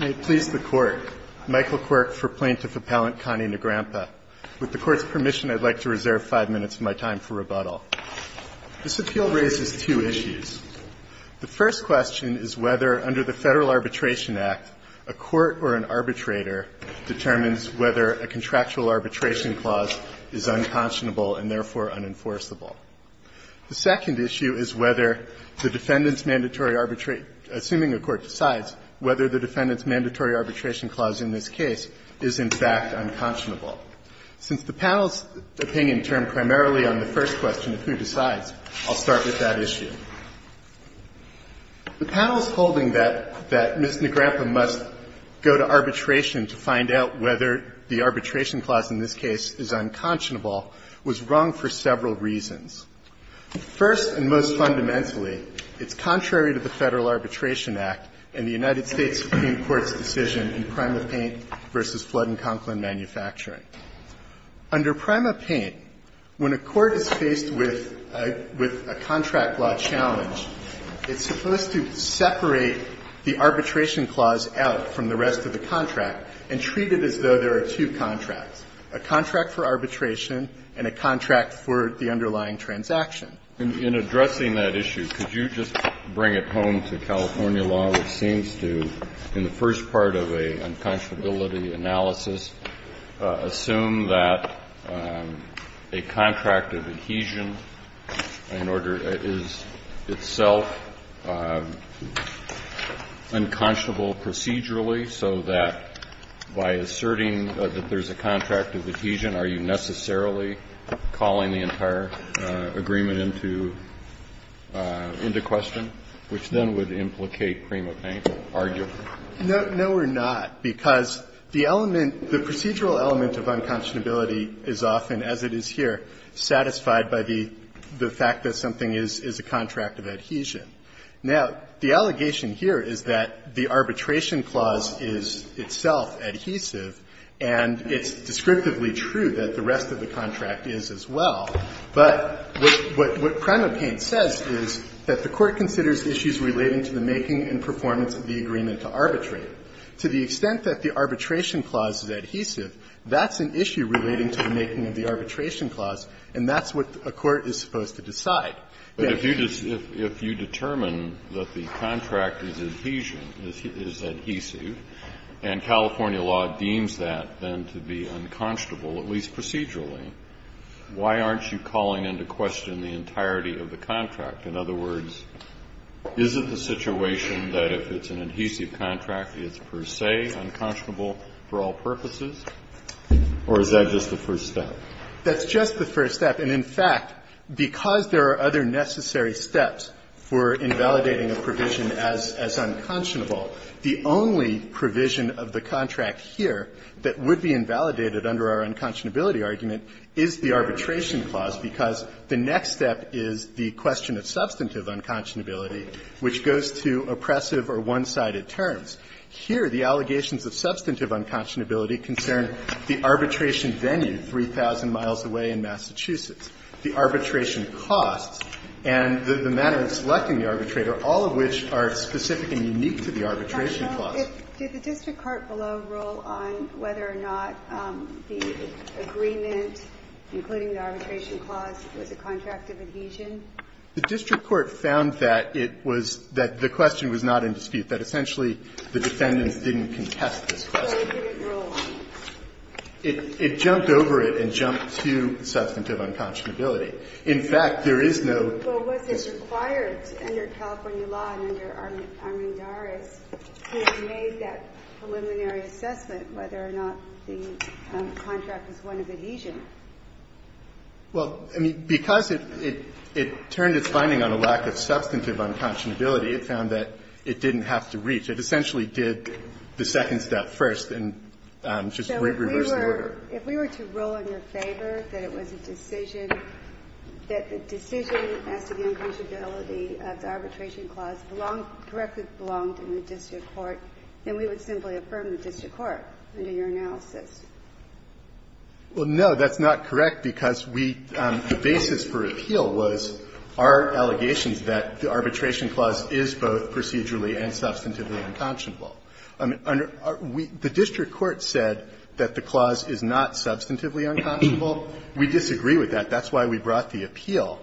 May it please the Court, Michael Quirk for Plaintiff Appellant Connie Nagrampa. With the Court's permission, I'd like to reserve five minutes of my time for rebuttal. This appeal raises two issues. The first question is whether, under the Federal Arbitration Act, a court or an arbitrator determines whether a contractual arbitration clause is unconscionable and therefore unenforceable. The second issue is whether the defendant's mandatory arbitrate – assuming a court decides, whether the defendant's mandatory arbitration clause in this case is in fact unconscionable. Since the panel's opinion turned primarily on the first question of who decides, I'll start with that issue. The panel's holding that Ms. Nagrampa must go to arbitration to find out whether the arbitration clause in this case is unconscionable was wrong for several reasons. First and most fundamentally, it's contrary to the Federal Arbitration Act and the United States Supreme Court's decision in PrimaPaint v. Flood & Conklin Manufacturing. Under PrimaPaint, when a court is faced with a contract law challenge, it's supposed to separate the arbitration clause out from the rest of the contract and treat it as though there are two contracts, a contract for arbitration and a contract for the underlying transaction. In addressing that issue, could you just bring it home to California law, which seems to, in the first part of a unconscionability analysis, assume that a contract of adhesion in order – is itself unconscionable procedurally, so that by asserting that there's a contract of adhesion, are you necessarily calling the entire agreement into – into question, which then would implicate PrimaPaint or argue? No, we're not, because the element – the procedural element of unconscionability is often, as it is here, satisfied by the fact that something is a contract of adhesion. Now, the allegation here is that the arbitration clause is itself adhesive, and it's descriptively true that the rest of the contract is as well. But what PrimaPaint says is that the Court considers issues relating to the making and performance of the agreement to arbitrate. To the extent that the arbitration clause is adhesive, that's an issue relating to the making of the arbitration clause, and that's what a court is supposed to decide. But if you – if you determine that the contract is adhesion, is adhesive, and California law deems that then to be unconscionable, at least procedurally, why aren't you calling into question the entirety of the contract? In other words, is it the situation that if it's an adhesive contract, it's per se unconscionable for all purposes, or is that just the first step? That's just the first step. And in fact, because there are other necessary steps for invalidating a provision as unconscionable, the only provision of the contract here that would be invalidated under our unconscionability argument is the arbitration clause, because the next step is the question of substantive unconscionability, which goes to oppressive or one-sided terms. Here, the allegations of substantive unconscionability concern the arbitration venue 3,000 miles away in Massachusetts, the arbitration costs, and the matter of selecting the arbitrator, all of which are specific and unique to the arbitration clause. Ginsburg. Did the district court below rule on whether or not the agreement, including the arbitration clause, was a contract of adhesion? The district court found that it was – that the question was not in dispute, that essentially the defendants didn't contest this question. But what did it rule? It jumped over it and jumped to substantive unconscionability. In fact, there is no – But was this required under California law and under Armendariz to have made that preliminary assessment whether or not the contract was one of adhesion? Well, I mean, because it turned its finding on a lack of substantive unconscionability, it found that it didn't have to reach. It essentially did the second step first and just reversed the order. So if we were to rule in your favor that it was a decision, that the decision as to the unconscionability of the arbitration clause belonged – correctly belonged in the district court, then we would simply affirm the district court under your analysis. Well, no, that's not correct, because we – the basis for appeal was our allegations that the arbitration clause is both procedurally and substantively unconscionable. The district court said that the clause is not substantively unconscionable. We disagree with that. That's why we brought the appeal.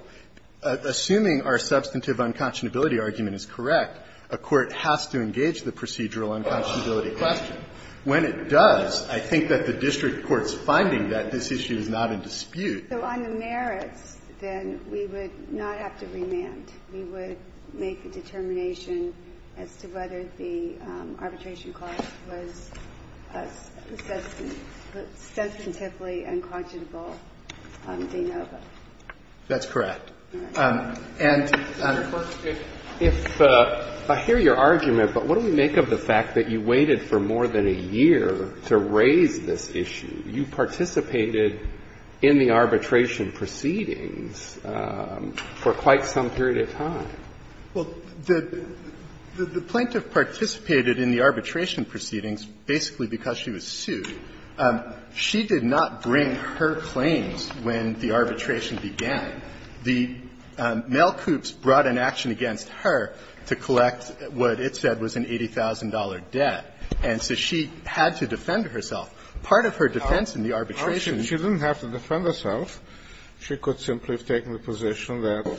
Assuming our substantive unconscionability argument is correct, a court has to engage the procedural unconscionability question. When it does, I think that the district court's finding that this issue is not in dispute. So on the merits, then, we would not have to remand. We would make a determination as to whether the arbitration clause was a substantively unconscionable de novo. That's correct. And, of course, if – I hear your argument, but what do we make of the fact that you waited for more than a year to raise this issue? You participated in the arbitration proceedings for quite some period of time. Well, the plaintiff participated in the arbitration proceedings basically because she was sued. She did not bring her claims when the arbitration began. The male coups brought an action against her to collect what it said was an $80,000 debt. And so she had to defend herself. Part of her defense in the arbitration – Well, she didn't have to defend herself. She could simply have taken the position that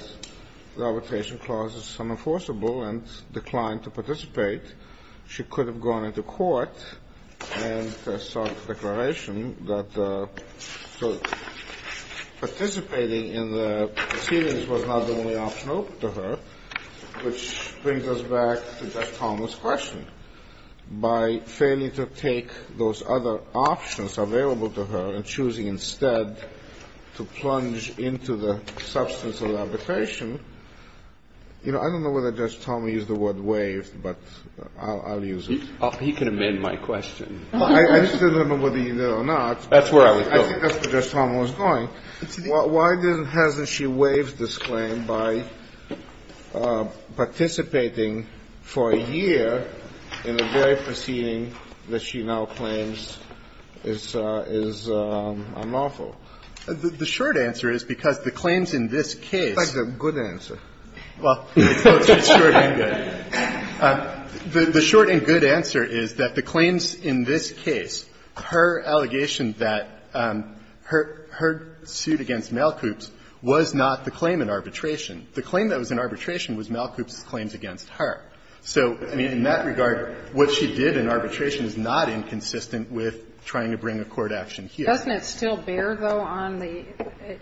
the arbitration clause is unenforceable and declined to participate. She could have gone into court and sought a declaration that the – so participating in the proceedings was not the only option open to her, which brings us back to that question. By failing to take those other options available to her and choosing instead to plunge into the substance of the arbitration, you know, I don't know whether Judge Thomas used the word waived, but I'll use it. He can amend my question. I just don't know whether he did or not. That's where I was going. I think that's where Judge Thomas was going. Why then hasn't she waived this claim by participating for a year in the very proceeding that she now claims is unlawful? The short answer is because the claims in this case – It's like the good answer. Well, it's both short and good. The short and good answer is that the claims in this case, her allegation that her suit against Malkoops was not the claim in arbitration. The claim that was in arbitration was Malkoops' claims against her. So, I mean, in that regard, what she did in arbitration is not inconsistent with trying to bring a court action here. Doesn't it still bear, though, on the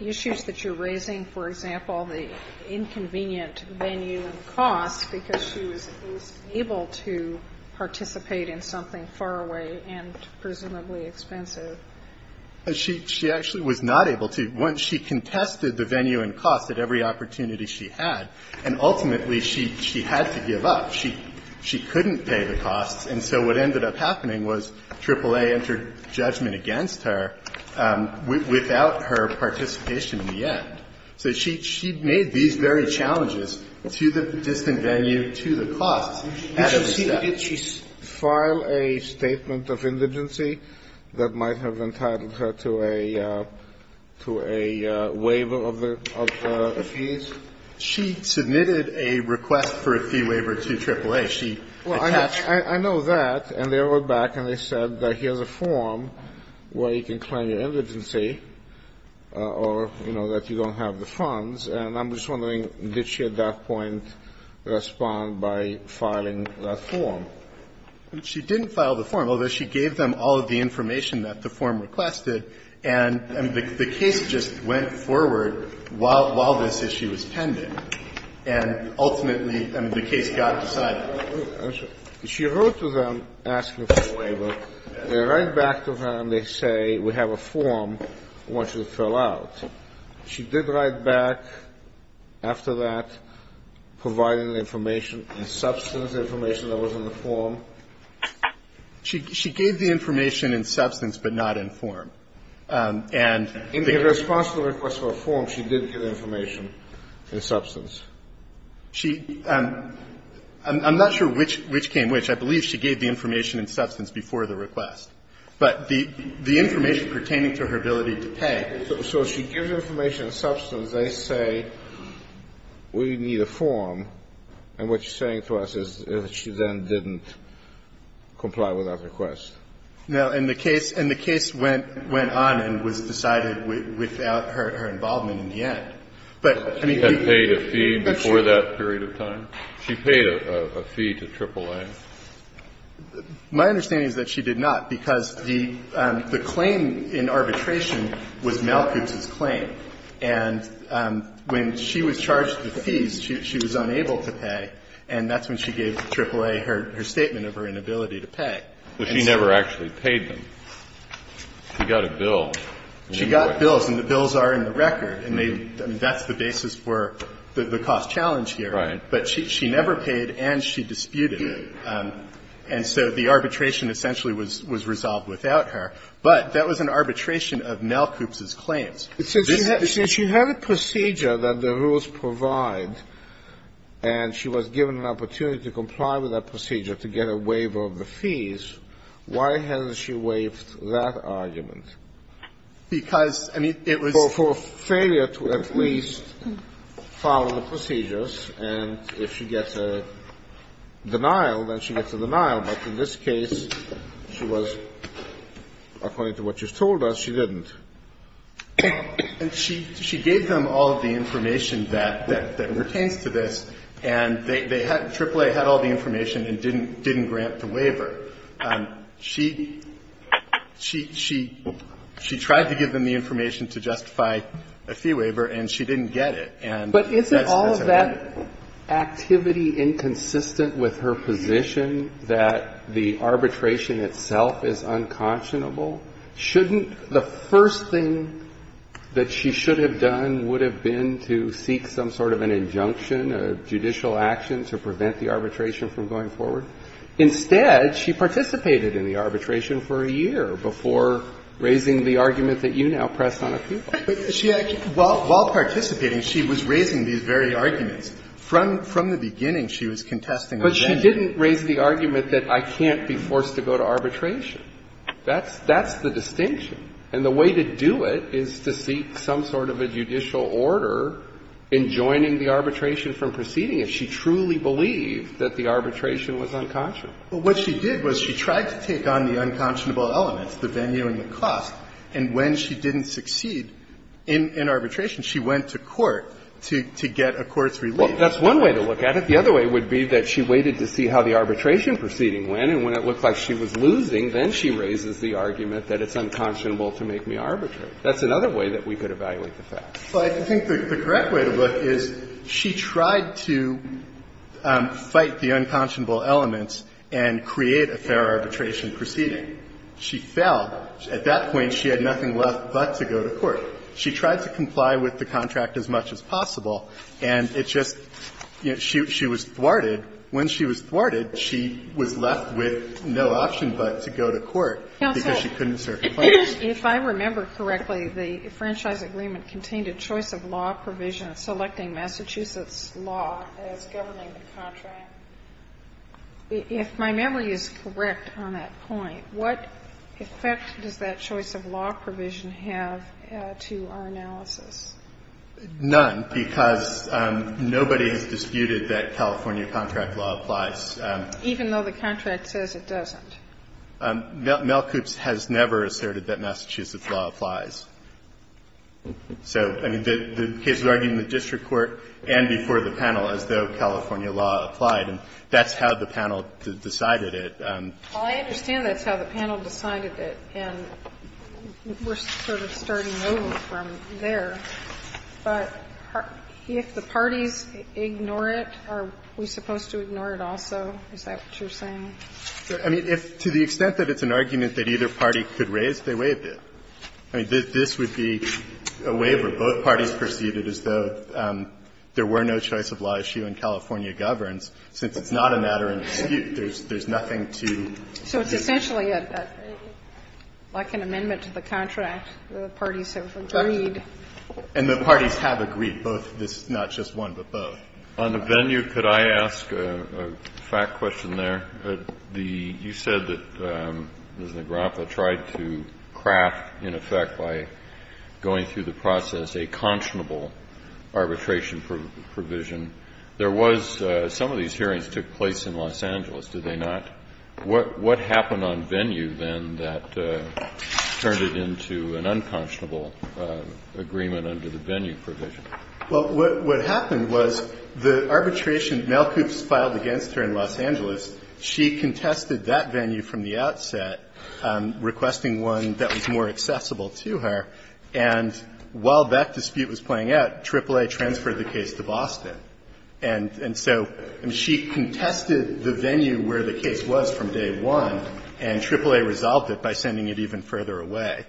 issues that you're raising, for example, the inconvenient venue and cost, because she was able to participate in something far away and presumably expensive? She actually was not able to. She contested the venue and cost at every opportunity she had, and ultimately she had to give up. She couldn't pay the costs, and so what ended up happening was AAA entered judgment against her without her participation in the end. So she made these very challenges to the distant venue, to the costs. Did she file a statement of indigency that might have entitled her to a to a waiver of the fees? She submitted a request for a fee waiver to AAA. She attached to it. I know that, and they wrote back and they said that here's a form where you can claim your indigency or, you know, that you don't have the funds, and I'm just wondering did she at that point respond by filing that form? She didn't file the form, although she gave them all of the information that the form requested, and the case just went forward while this issue was pending. And ultimately, I mean, the case got decided. She wrote to them asking for a waiver. They write back to her and they say we have a form. I want you to fill out. She did write back after that, providing the information in substance, the information that was in the form. She gave the information in substance but not in form, and In response to the request for a form, she did give the information in substance. She, I'm not sure which came which. I believe she gave the information in substance before the request, but the information pertaining to her ability to pay. So she gives the information in substance. They say we need a form, and what she's saying to us is that she then didn't comply with that request. Now, and the case went on and was decided without her involvement in the end. But, I mean, She had paid a fee before that period of time? She paid a fee to AAA? My understanding is that she did not, because the claim in arbitration was Malkuth's claim. And when she was charged the fees, she was unable to pay, and that's when she gave AAA her statement of her inability to pay. But she never actually paid them. She got a bill. She got bills, and the bills are in the record, and they, I mean, that's the basis for the cost challenge here. Right. But she never paid and she disputed it. And so the arbitration essentially was resolved without her. But that was an arbitration of Malkuth's claims. This is the same. Since she had a procedure that the rules provide and she was given an opportunity to comply with that procedure to get a waiver of the fees, why hasn't she waived that argument? Because, I mean, it was For failure to at least follow the procedures. And if she gets a denial, then she gets a denial. But in this case, she was, according to what you've told us, she didn't. And she gave them all of the information that pertains to this, and AAA had all the information and didn't grant the waiver. She tried to give them the information to justify a fee waiver, and she didn't get it. But isn't all of that activity inconsistent with her position that the arbitration itself is unconscionable? Shouldn't the first thing that she should have done would have been to seek some sort of an injunction, a judicial action to prevent the arbitration from going forward? Instead, she participated in the arbitration for a year before raising the argument that you now pressed on appeal. She actually, while participating, she was raising these very arguments. From the beginning, she was contesting the venue. But she didn't raise the argument that I can't be forced to go to arbitration. That's the distinction. And the way to do it is to seek some sort of a judicial order in joining the arbitration from proceeding if she truly believed that the arbitration was unconscionable. Well, what she did was she tried to take on the unconscionable elements, the venue and the cost, and when she didn't succeed in arbitration, she went to court to get a court's relief. Well, that's one way to look at it. The other way would be that she waited to see how the arbitration proceeding went, and when it looked like she was losing, then she raises the argument that it's unconscionable to make me arbitrate. That's another way that we could evaluate the facts. Well, I think the correct way to look is she tried to fight the unconscionable elements and create a fair arbitration proceeding. She failed. At that point, she had nothing left but to go to court. She tried to comply with the contract as much as possible, and it's just, you know, she was thwarted. When she was thwarted, she was left with no option but to go to court because she couldn't serve her claim. Counsel, if I remember correctly, the franchise agreement contained a choice of law provision selecting Massachusetts law as governing the contract. If my memory is correct on that point, what effect does that choice of law provision have to our analysis? None, because nobody has disputed that California contract law applies. Even though the contract says it doesn't. Melkoops has never asserted that Massachusetts law applies. So, I mean, the case would argue in the district court and before the panel as though California law applied, and that's how the panel decided it. Well, I understand that's how the panel decided it, and we're sort of starting over from there. But if the parties ignore it, are we supposed to ignore it also? Is that what you're saying? I mean, to the extent that it's an argument that either party could raise, they waived it. I mean, this would be a waiver. Both parties perceived it as though there were no choice of law issue and California governs. Since it's not a matter of dispute, there's nothing to dispute. So it's essentially like an amendment to the contract, the parties have agreed. And the parties have agreed, both, not just one, but both. On the venue, could I ask a fact question there? You said that Ms. Negraffa tried to craft, in effect, by going through the process, a conscionable arbitration provision. There was some of these hearings took place in Los Angeles, did they not? What happened on venue, then, that turned it into an unconscionable agreement under the venue provision? Well, what happened was the arbitration, Malkoops filed against her in Los Angeles. She contested that venue from the outset, requesting one that was more accessible to her. And while that dispute was playing out, AAA transferred the case to Boston. And so she contested the venue where the case was from day one, and AAA resolved it by sending it even further away.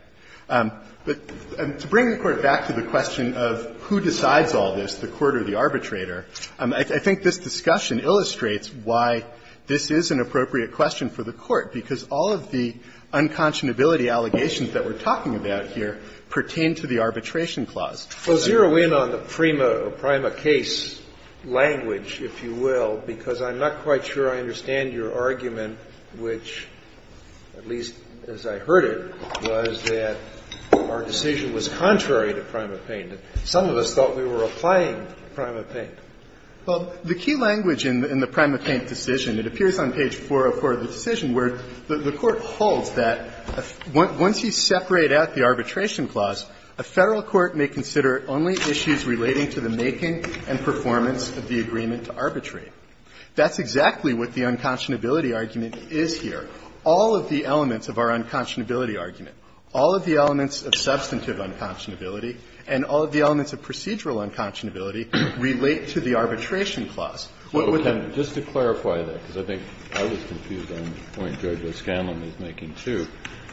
But to bring the Court back to the question of who decides all this, the court or the This is an appropriate question for the Court, because all of the unconscionability allegations that we're talking about here pertain to the arbitration clause. Well, zero in on the prima or prima case language, if you will, because I'm not quite sure I understand your argument, which, at least as I heard it, was that our decision was contrary to prima pena. Some of us thought we were applying prima pena. Well, the key language in the prima pena decision, it appears on page 404 of the decision, where the Court holds that once you separate out the arbitration clause, a Federal court may consider only issues relating to the making and performance of the agreement to arbitrate. That's exactly what the unconscionability argument is here. All of the elements of our unconscionability argument, all of the elements of substantive unconscionability, and all of the elements of procedural unconscionability relate to the arbitration clause. What would that be? Just to clarify that, because I think I was confused on the point Judge O'Scanlan was making, too,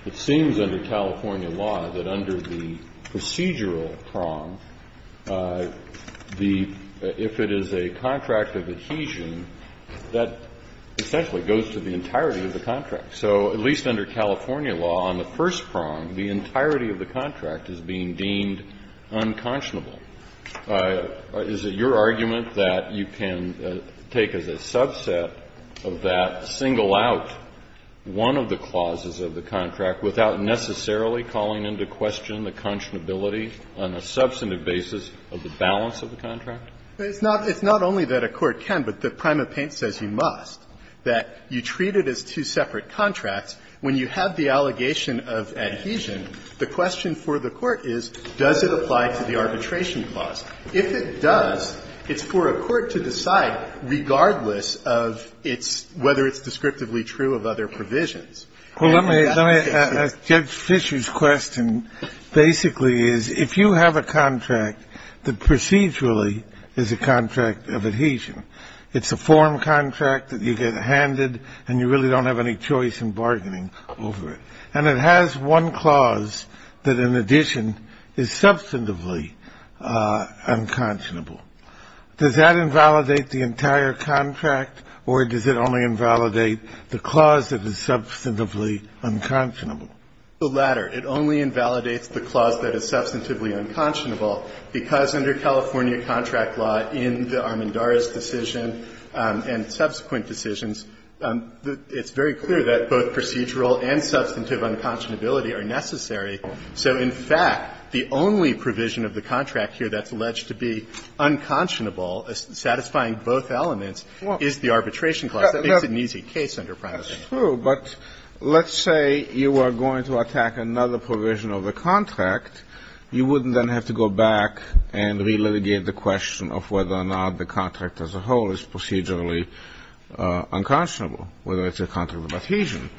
it seems under California law that under the procedural prong, the – if it is a contract of adhesion, that essentially goes to the entirety of the contract. So at least under California law, on the first prong, the entirety of the contract is being deemed unconscionable. Is it your argument that you can take as a subset of that, single out one of the clauses of the contract without necessarily calling into question the conscionability on a substantive basis of the balance of the contract? It's not only that a court can, but the prima pena says you must, that you treat it as two separate contracts. When you have the allegation of adhesion, the question for the court is, does it apply to the arbitration clause? If it does, it's for a court to decide, regardless of its – whether it's descriptively true of other provisions. Well, let me – let me ask Judge Fischer's question basically is, if you have a contract that procedurally is a contract of adhesion, it's a form contract that you get handed and you really don't have any choice in bargaining over it, and it has one clause that, in addition, is substantively unconscionable, does that invalidate the entire contract, or does it only invalidate the clause that is substantively unconscionable? The latter. It only invalidates the clause that is substantively unconscionable because under California contract law in the Armendariz decision and subsequent decisions, it's very clear that both procedural and substantive unconscionability are necessary. So, in fact, the only provision of the contract here that's alleged to be unconscionable, satisfying both elements, is the arbitration clause. That makes it an easy case under prima pena. That's true, but let's say you are going to attack another provision of the contract. You wouldn't then have to go back and re-litigate the question of whether or not the contract as a whole is procedurally unconscionable, whether it's a contract of adhesion.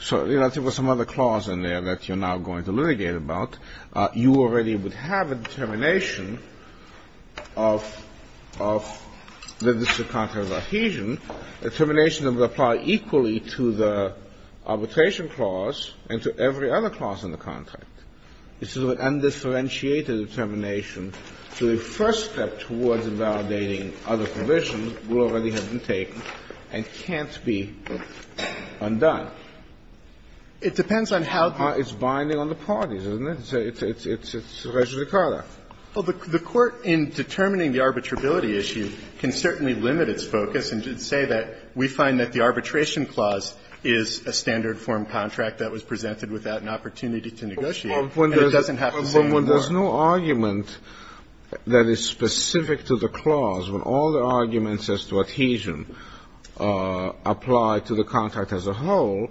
So if there were some other clause in there that you're now going to litigate about, you already would have a determination of that this is a contract of adhesion, a determination that would apply equally to the arbitration clause and to every other clause in the contract. This is an undifferentiated determination. So the first step towards invalidating other provisions will already have been taken and can't be undone. It depends on how it's binding on the parties, doesn't it? It's a regis de carta. Well, the Court, in determining the arbitrability issue, can certainly limit its focus and say that we find that the arbitration clause is a standard form contract that was presented without an opportunity to negotiate. And it doesn't have to say anymore. But when there's no argument that is specific to the clause, when all the arguments as to adhesion apply to the contract as a whole,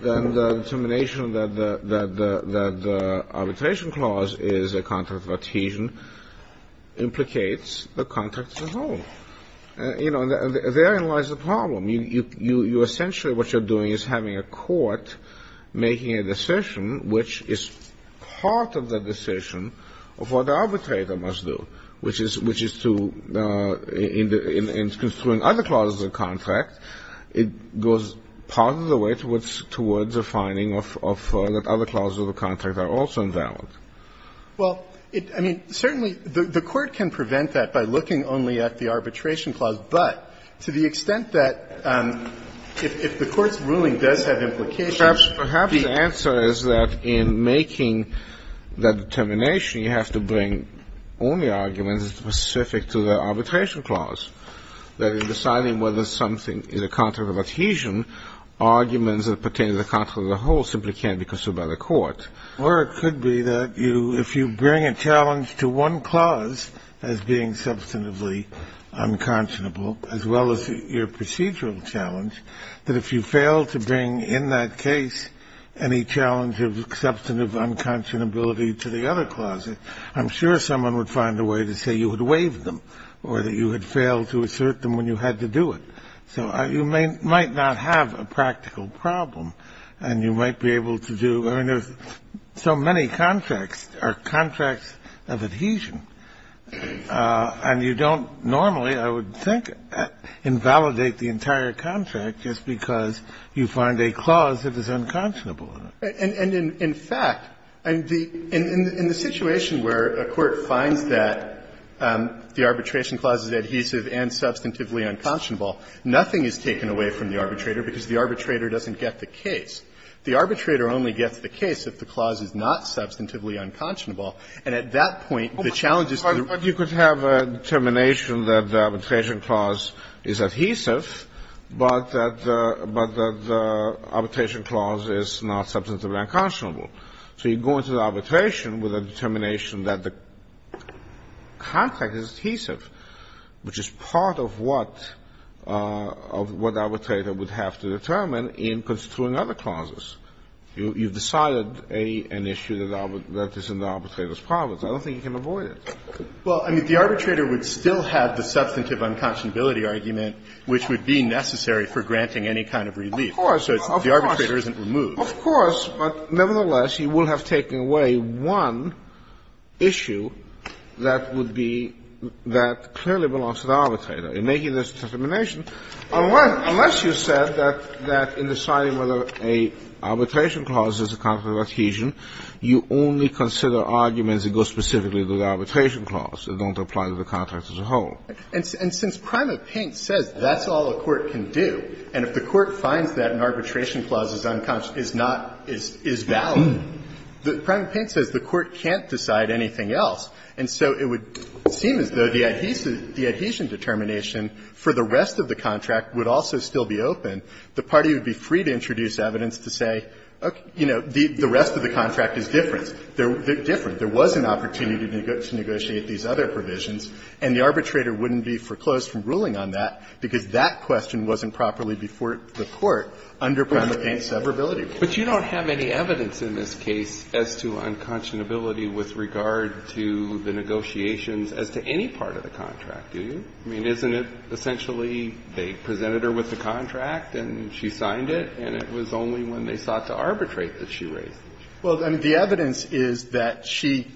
then the determination that the arbitration clause is a contract of adhesion implicates the contract as a whole. You know, therein lies the problem. You essentially, what you're doing is having a court making a decision which is part of the decision of what the arbitrator must do, which is to, in construing other clauses of the contract, it goes part of the way towards a finding of that other clauses of the contract are also invalid. Well, I mean, certainly the Court can prevent that by looking only at the arbitration clause, but to the extent that if the Court's ruling does have implication, perhaps the answer is that in making that determination, you have to bring only arguments specific to the arbitration clause, that in deciding whether something is a contract of adhesion, arguments that pertain to the contract as a whole simply can't be construed by the Court. Or it could be that you, if you bring a challenge to one clause as being substantively unconscionable, as well as your procedural challenge, that if you fail to bring in that case any challenge of substantive unconscionability to the other clauses, I'm sure someone would find a way to say you had waived them, or that you had failed to assert them when you had to do it. So you might not have a practical problem, and you might be able to do, I mean, there's so many contracts, or contracts of adhesion, and you don't normally, I would think, invalidate the entire contract just because you find a clause that is unconscionable in it. And in fact, in the situation where a court finds that the arbitration clause is adhesive and substantively unconscionable, nothing is taken away from the arbitrator because the arbitrator doesn't get the case. The arbitrator only gets the case if the clause is not substantively unconscionable. And at that point, the challenge is to the other clauses. Kennedy, but you could have a determination that the arbitration clause is adhesive, but that the arbitration clause is not substantively unconscionable. So you go into the arbitration with a determination that the contract is adhesive, which is part of what the arbitrator would have to determine in constituting other clauses. You've decided an issue that is in the arbitrator's province. I don't think you can avoid it. Well, I mean, the arbitrator would still have the substantive unconscionability argument, which would be necessary for granting any kind of relief. Of course. So the arbitrator isn't removed. Of course. But nevertheless, you will have taken away one issue that would be that clearly belongs to the arbitrator. In making this determination, unless you said that in deciding whether an arbitration clause is a contract of adhesion, you only consider arguments that go specifically to the arbitration clause and don't apply to the contract as a whole. And since Prima Pint says that's all a court can do, and if the court finds that an arbitration clause is not valid, Prima Pint says the court can't decide anything else. And so it would seem as though the adhesion determination for the rest of the contract would also still be open. The party would be free to introduce evidence to say, you know, the rest of the contract is different. They're different. There was an opportunity to negotiate these other provisions, and the arbitrator wouldn't be foreclosed from ruling on that because that question wasn't properly before the court under Prima Pint's severability. But you don't have any evidence in this case as to unconscionability with regard to the negotiations as to any part of the contract, do you? I mean, isn't it essentially they presented her with the contract and she signed it, and it was only when they sought to arbitrate that she raised it? Well, I mean, the evidence is that she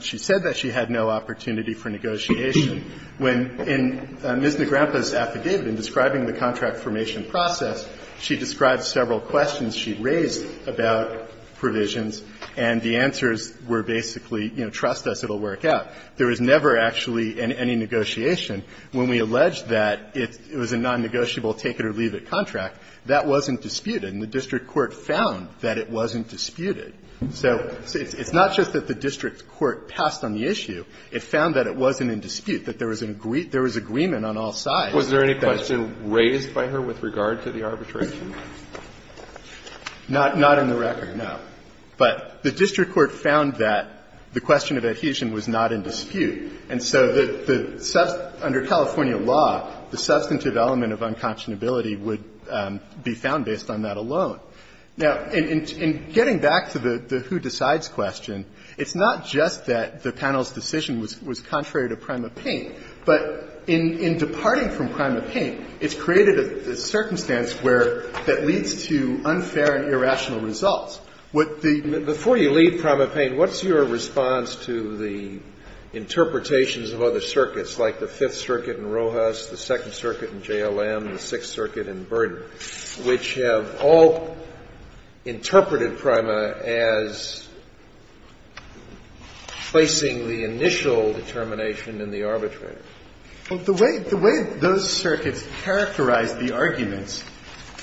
said that she had no opportunity for negotiation. When in Ms. Negrempa's affidavit, in describing the contract formation process, she described several questions she raised about provisions, and the answers were basically, you know, trust us, it will work out. There was never actually any negotiation. When we alleged that it was a non-negotiable take-it-or-leave-it contract, that wasn't disputed, and the district court found that it wasn't disputed. So it's not just that the district court passed on the issue. It found that it wasn't in dispute, that there was agreement on all sides. Was there any question raised by her with regard to the arbitration? Not in the record, no. But the district court found that the question of adhesion was not in dispute. And so the under California law, the substantive element of unconscionability would be found based on that alone. Now, in getting back to the who decides question, it's not just that the panel's decision was contrary to PrimaPaint, but in departing from PrimaPaint, it's created a circumstance where that leads to unfair and irrational results. What the ---- Scalia, before you leave PrimaPaint, what's your response to the interpretations of other circuits, like the Fifth Circuit in Rojas, the Second Circuit in JLM, the Sixth Circuit in Berger, which have all interpreted Prima as placing the initial determination in the arbitrator? Well, the way those circuits characterize the arguments,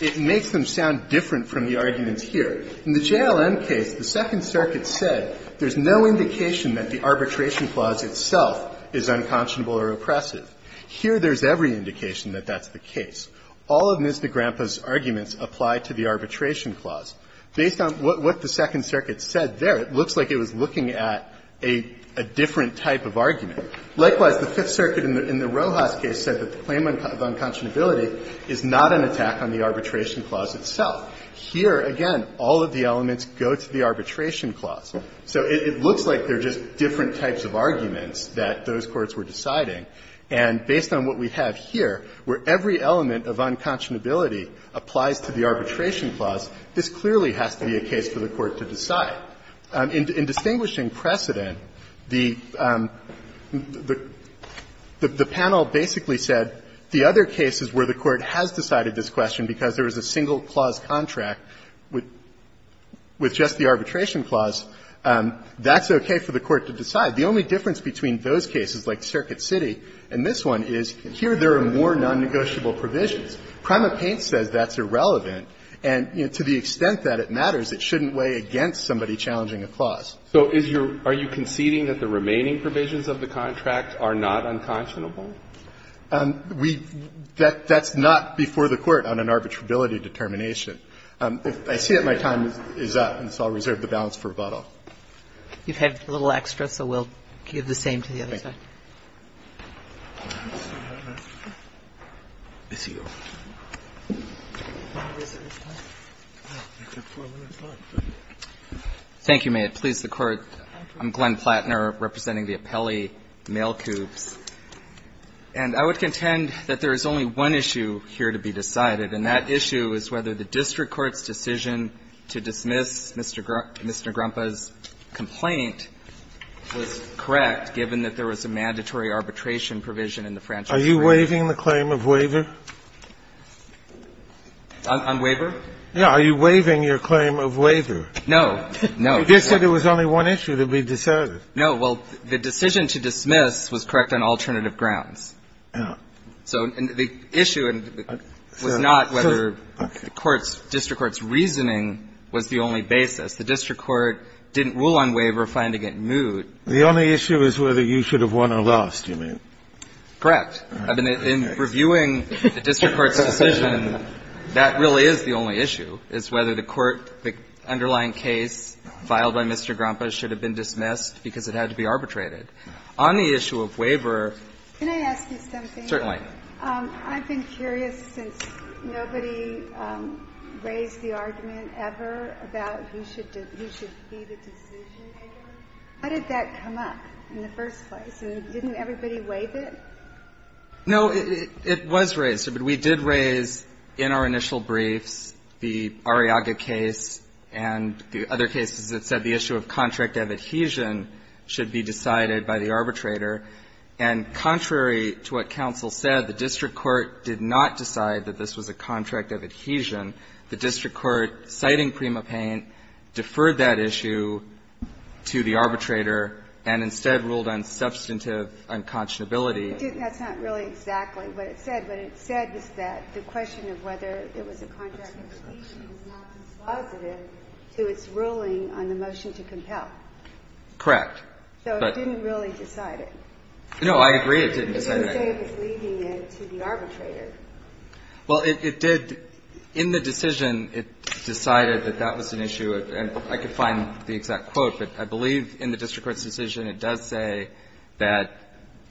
it makes them sound different from the arguments here. In the JLM case, the Second Circuit said there's no indication that the arbitration clause itself is unconscionable or oppressive. Here, there's every indication that that's the case. All of Ms. Negrempa's arguments apply to the arbitration clause. Based on what the Second Circuit said there, it looks like it was looking at a different type of argument. Likewise, the Fifth Circuit in the Rojas case said that the claim of unconscionability is not an attack on the arbitration clause itself. Here, again, all of the elements go to the arbitration clause. So it looks like they're just different types of arguments that those courts were deciding. And based on what we have here, where every element of unconscionability applies to the arbitration clause, this clearly has to be a case for the Court to decide. Now, in distinguishing precedent, the panel basically said the other cases where the Court has decided this question because there was a single clause contract with just the arbitration clause, that's okay for the Court to decide. The only difference between those cases, like Circuit City and this one, is here there are more nonnegotiable provisions. Prima Paint says that's irrelevant, and to the extent that it matters, it shouldn't weigh against somebody challenging a clause. So is your – are you conceding that the remaining provisions of the contract are not unconscionable? We – that's not before the Court on an arbitrability determination. I see that my time is up, and so I'll reserve the balance for rebuttal. You've had a little extra, so we'll give the same to the other side. Thank you, may it please the Court. I'm Glenn Plattner, representing the appellee, Mail Cubes. And I would contend that there is only one issue here to be decided, and that issue is whether the district court's decision to dismiss Mr. Grumpa's complaint was correct, given that there was a mandatory arbitration provision in the franchise agreement. Are you waiving the claim of waiver? On waiver? Yes. Are you waiving your claim of waiver? No. No. You just said there was only one issue to be decided. No. Well, the decision to dismiss was correct on alternative grounds. So the issue was not whether the court's – district court's reasoning was the only basis. The district court didn't rule on waiver, finding it moot. The only issue is whether you should have won or lost, you mean. Correct. In reviewing the district court's decision, that really is the only issue, is whether the court – the underlying case filed by Mr. Grumpa should have been dismissed because it had to be arbitrated. On the issue of waiver – Can I ask you something? Certainly. I've been curious, since nobody raised the argument ever about who should be the decision-maker, how did that come up in the first place? And didn't everybody waive it? No, it was raised. But we did raise, in our initial briefs, the Arriaga case and the other cases that said the issue of contract of adhesion should be decided by the arbitrator. And contrary to what counsel said, the district court did not decide that this was a contract of adhesion. The district court, citing Prima Paine, deferred that issue to the arbitrator and instead ruled on substantive unconscionability. That's not really exactly what it said. What it said is that the question of whether it was a contract of adhesion is not dispositive to its ruling on the motion to compel. Correct. So it didn't really decide it. No, I agree it didn't decide it. It didn't say it was leaving it to the arbitrator. Well, it did. In the decision, it decided that that was an issue. And I could find the exact quote, but I believe in the district court's decision, it does say that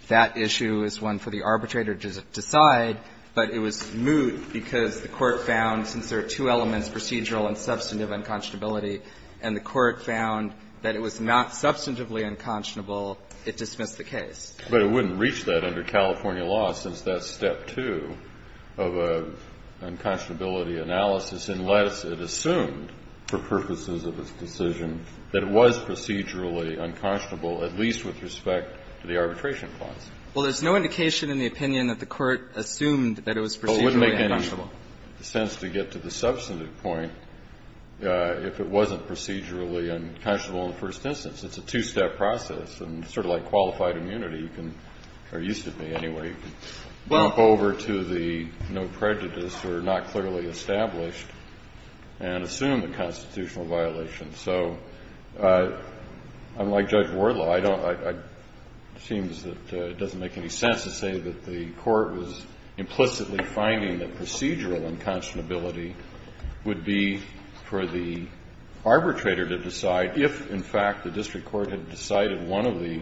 that issue is one for the arbitrator to decide. But it was moot because the court found, since there are two elements, procedural and substantive unconscionability, and the court found that it was not substantively unconscionable, it dismissed the case. But it wouldn't reach that under California law, since that's step two of a unconscionability analysis, unless it assumed, for purposes of its decision, that it was procedurally unconscionable, at least with respect to the arbitration clause. Well, there's no indication in the opinion that the court assumed that it was procedurally unconscionable. Well, it wouldn't make any sense to get to the substantive point if it wasn't procedurally unconscionable in the first instance. It's a two-step process, and sort of like qualified immunity, you can, or used to be, anyway, you can bump over to the no prejudice or not clearly established and assume the constitutional violation. So, unlike Judge Wardlow, I don't, it seems that it doesn't make any sense to say that the court was implicitly finding that procedural unconscionability would be for the district court to decide that one of the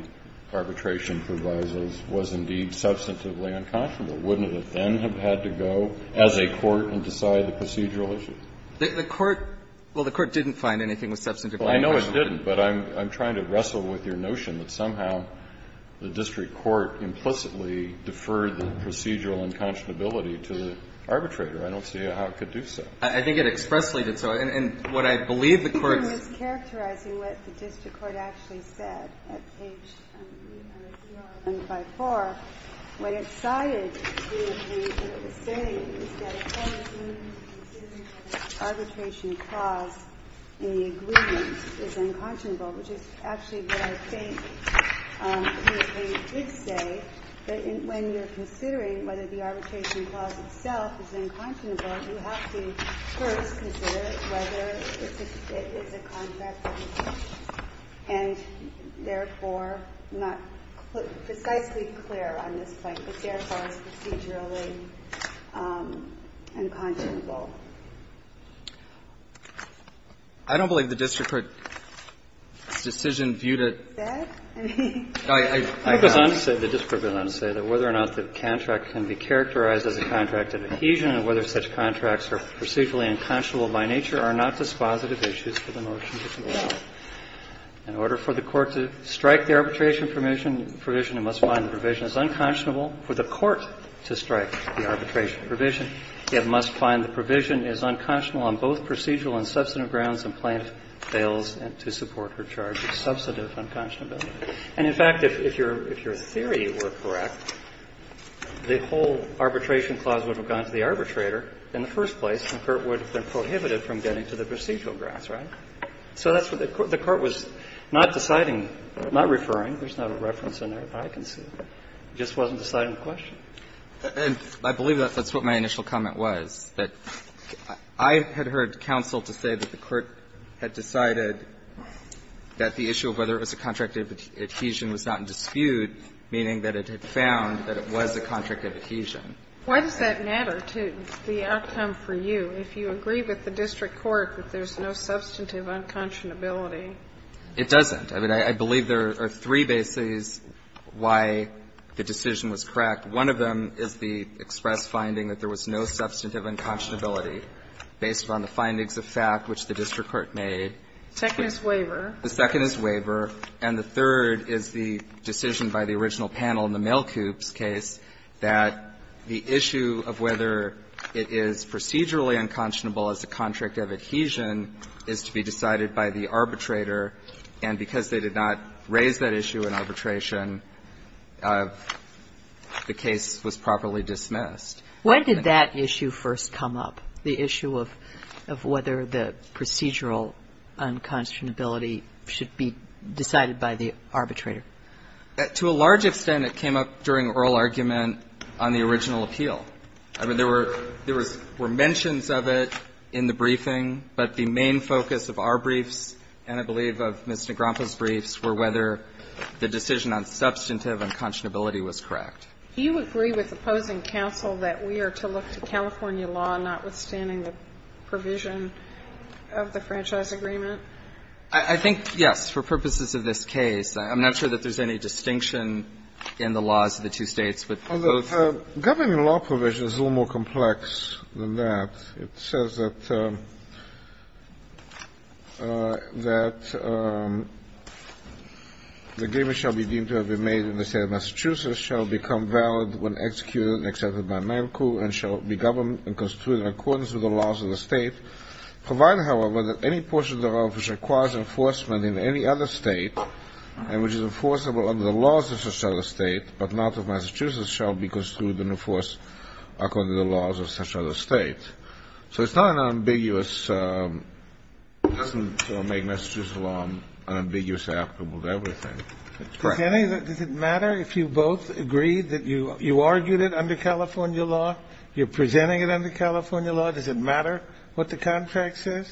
arbitration provisos was indeed substantively unconscionable. Wouldn't it then have had to go, as a court, and decide the procedural issue? The court, well, the court didn't find anything was substantively unconscionable. Well, I know it didn't, but I'm trying to wrestle with your notion that somehow the district court implicitly deferred the procedural unconscionability to the arbitrator. I don't see how it could do so. I think it expressly did so. And what I believe the court's ---- I'm just characterizing what the district court actually said at page 3054. What it cited here is what it was saying is that, of course, when you're considering whether the arbitration clause in the agreement is unconscionable, which is actually what I think the plaintiff did say, that when you're considering whether the arbitration clause itself is unconscionable, you have to first consider whether it's a constitutional contract and, therefore, not precisely clear on this point, but, therefore, it's procedurally unconscionable. I don't believe the district court's decision viewed it as that. I mean, I have to say the district court did not say that whether or not the contract can be characterized as a contract of adhesion and whether such contracts are procedurally unconscionable by nature are not dispositive issues for the notion of the law. In order for the court to strike the arbitration provision, it must find the provision is unconscionable for the court to strike the arbitration provision. It must find the provision is unconscionable on both procedural and substantive grounds, and plaintiff fails to support her charge of substantive unconscionability. And, in fact, if your theory were correct, the whole arbitration clause would have been prohibited from getting to the procedural grounds, right? So that's what the court was not deciding, not referring. There's not a reference in there that I can see. It just wasn't deciding the question. And I believe that's what my initial comment was, that I had heard counsel to say that the court had decided that the issue of whether it was a contract of adhesion was not in dispute, meaning that it had found that it was a contract of adhesion. Why does that matter to the outcome for you, if you agree with the district court that there's no substantive unconscionability? It doesn't. I mean, I believe there are three bases why the decision was correct. One of them is the express finding that there was no substantive unconscionability based on the findings of fact which the district court made. The second is waiver. The second is waiver. And the third is the decision by the original panel in the Mail Coops case that the issue of whether it is procedurally unconscionable as a contract of adhesion is to be decided by the arbitrator. And because they did not raise that issue in arbitration, the case was properly dismissed. When did that issue first come up, the issue of whether the procedural unconscionability should be decided by the arbitrator? To a large extent, it came up during oral argument on the original appeal. I mean, there were mentions of it in the briefing, but the main focus of our briefs and I believe of Ms. Negrompa's briefs were whether the decision on substantive unconscionability was correct. Do you agree with opposing counsel that we are to look to California law, notwithstanding the provision of the franchise agreement? I think, yes, for purposes of this case. I'm not sure that there's any distinction in the laws of the two states with both. Governing law provision is a little more complex than that. It says that the agreement shall be deemed to have been made in the State of Massachusetts, shall become valid when executed and accepted by Mail Coop, and shall be governed and constituted in accordance with the laws of the State, provided, however, that any portion of the law which requires enforcement in any other State and which is enforceable under the laws of such other States, but not of Massachusetts, shall be constituted and enforced according to the laws of such other States. So it's not an ambiguous – it doesn't make Massachusetts law unambiguous applicable to everything. Correct. Does it matter if you both agree that you argued it under California law, you're presenting it under California law? Does it matter what the contract says?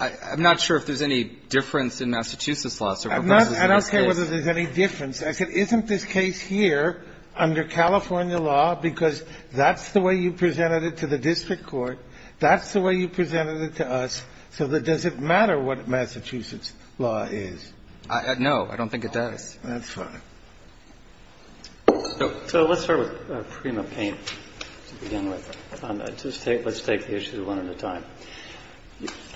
I'm not sure if there's any difference in Massachusetts law. I don't care whether there's any difference. I said, isn't this case here under California law, because that's the way you presented it to the district court, that's the way you presented it to us, so does it matter what Massachusetts law is? No, I don't think it does. That's fine. So let's start with Prima Paint to begin with. Let's take the issues one at a time.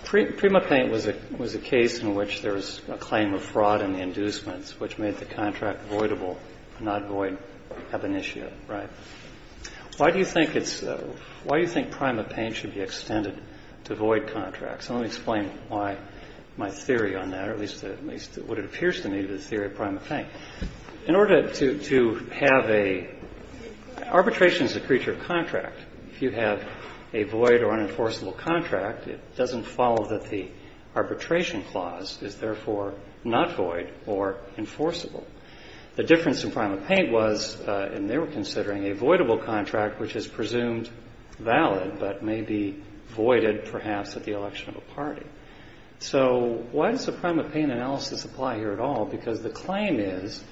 Prima Paint was a case in which there was a claim of fraud in the inducements which made the contract voidable, not void ab initio, right? Why do you think it's – why do you think Prima Paint should be extended to void contracts? And let me explain why my theory on that, or at least what it appears to me to be the theory of Prima Paint. If you have a void or unenforceable contract, it doesn't follow that the arbitration clause is therefore not void or enforceable. The difference in Prima Paint was, and they were considering, a voidable contract which is presumed valid but may be voided perhaps at the election of a party. So why does the Prima Paint analysis apply here at all? Because the claim is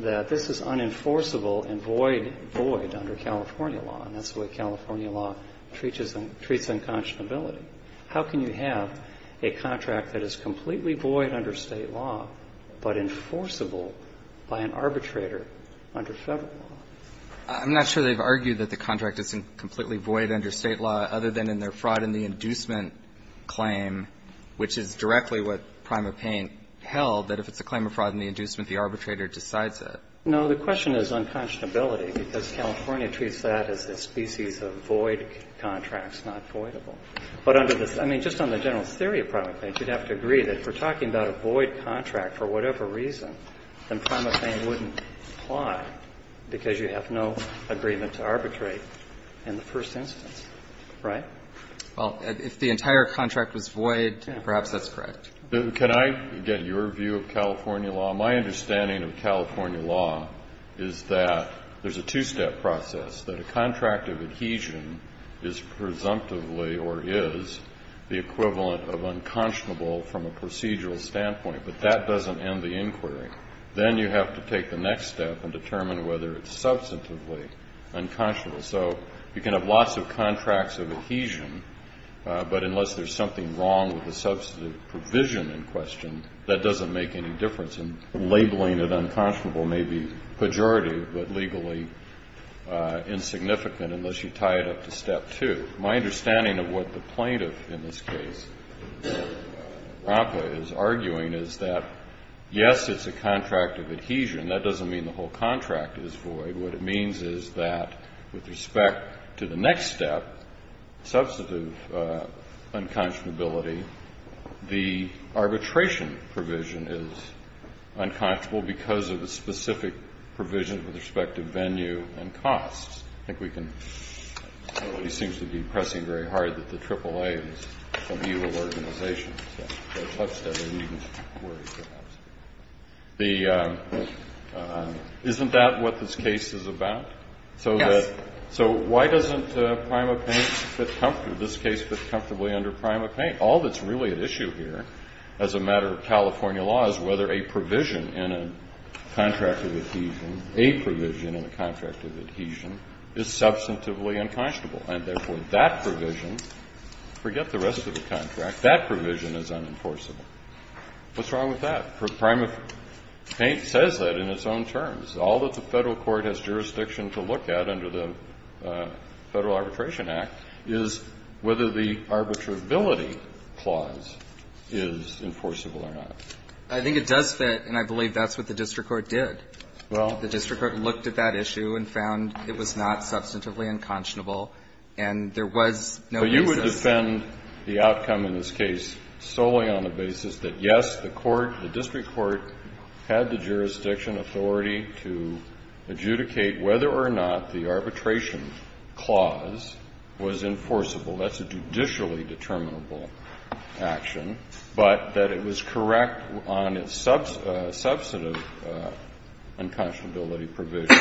that this is unenforceable and void void under California law, and that's the way California law treats unconscionability. How can you have a contract that is completely void under State law but enforceable by an arbitrator under Federal law? I'm not sure they've argued that the contract isn't completely void under State law other than in their fraud in the inducement claim, which is directly what Prima Paint held, that if it's a claim of fraud in the inducement, the arbitrator decides it. No, the question is unconscionability, because California treats that as a species of void contracts, not voidable. But under this – I mean, just on the general theory of Prima Paint, you'd have to agree that if we're talking about a void contract for whatever reason, then Prima Paint wouldn't apply because you have no agreement to arbitrate in the first instance, right? Well, if the entire contract was void, perhaps that's correct. Can I get your view of California law? My understanding of California law is that there's a two-step process, that a contract of adhesion is presumptively or is the equivalent of unconscionable from a procedural standpoint, but that doesn't end the inquiry. Then you have to take the next step and determine whether it's substantively unconscionable. So you can have lots of contracts of adhesion, but unless there's something wrong with the substantive provision in question, that doesn't make any difference. And labeling it unconscionable may be pejorative, but legally insignificant unless you tie it up to step two. My understanding of what the plaintiff in this case, Rampa, is arguing is that, yes, it's a contract of adhesion. That doesn't mean the whole contract is void. What it means is that, with respect to the next step, substantive unconscionability, the arbitration provision is unconscionable because of the specific provision with respect to venue and costs. I think we can, nobody seems to be pressing very hard that the AAA is a legal organization. So it's a tough study we needn't worry so much. The, isn't that what this case is about? So that, so why doesn't PrimaPaint fit comfortably, this case fit comfortably under PrimaPaint? All that's really at issue here, as a matter of California law, is whether a provision in a contract of adhesion, a provision in a contract of adhesion, is substantively unconscionable. And therefore, that provision, forget the rest of the contract, that provision is unenforceable. What's wrong with that? PrimaPaint says that in its own terms. All that the Federal Court has jurisdiction to look at under the Federal Arbitration Act is whether the arbitrability clause is enforceable or not. I think it does fit, and I believe that's what the district court did. Well. The district court looked at that issue and found it was not substantively unconscionable, and there was no basis. But you would defend the outcome in this case solely on the basis that, yes, the court, the district court, had the jurisdiction, authority to adjudicate whether or not the arbitration clause was enforceable. That's a judicially determinable action, but that it was correct on its substantive unconscionability provision,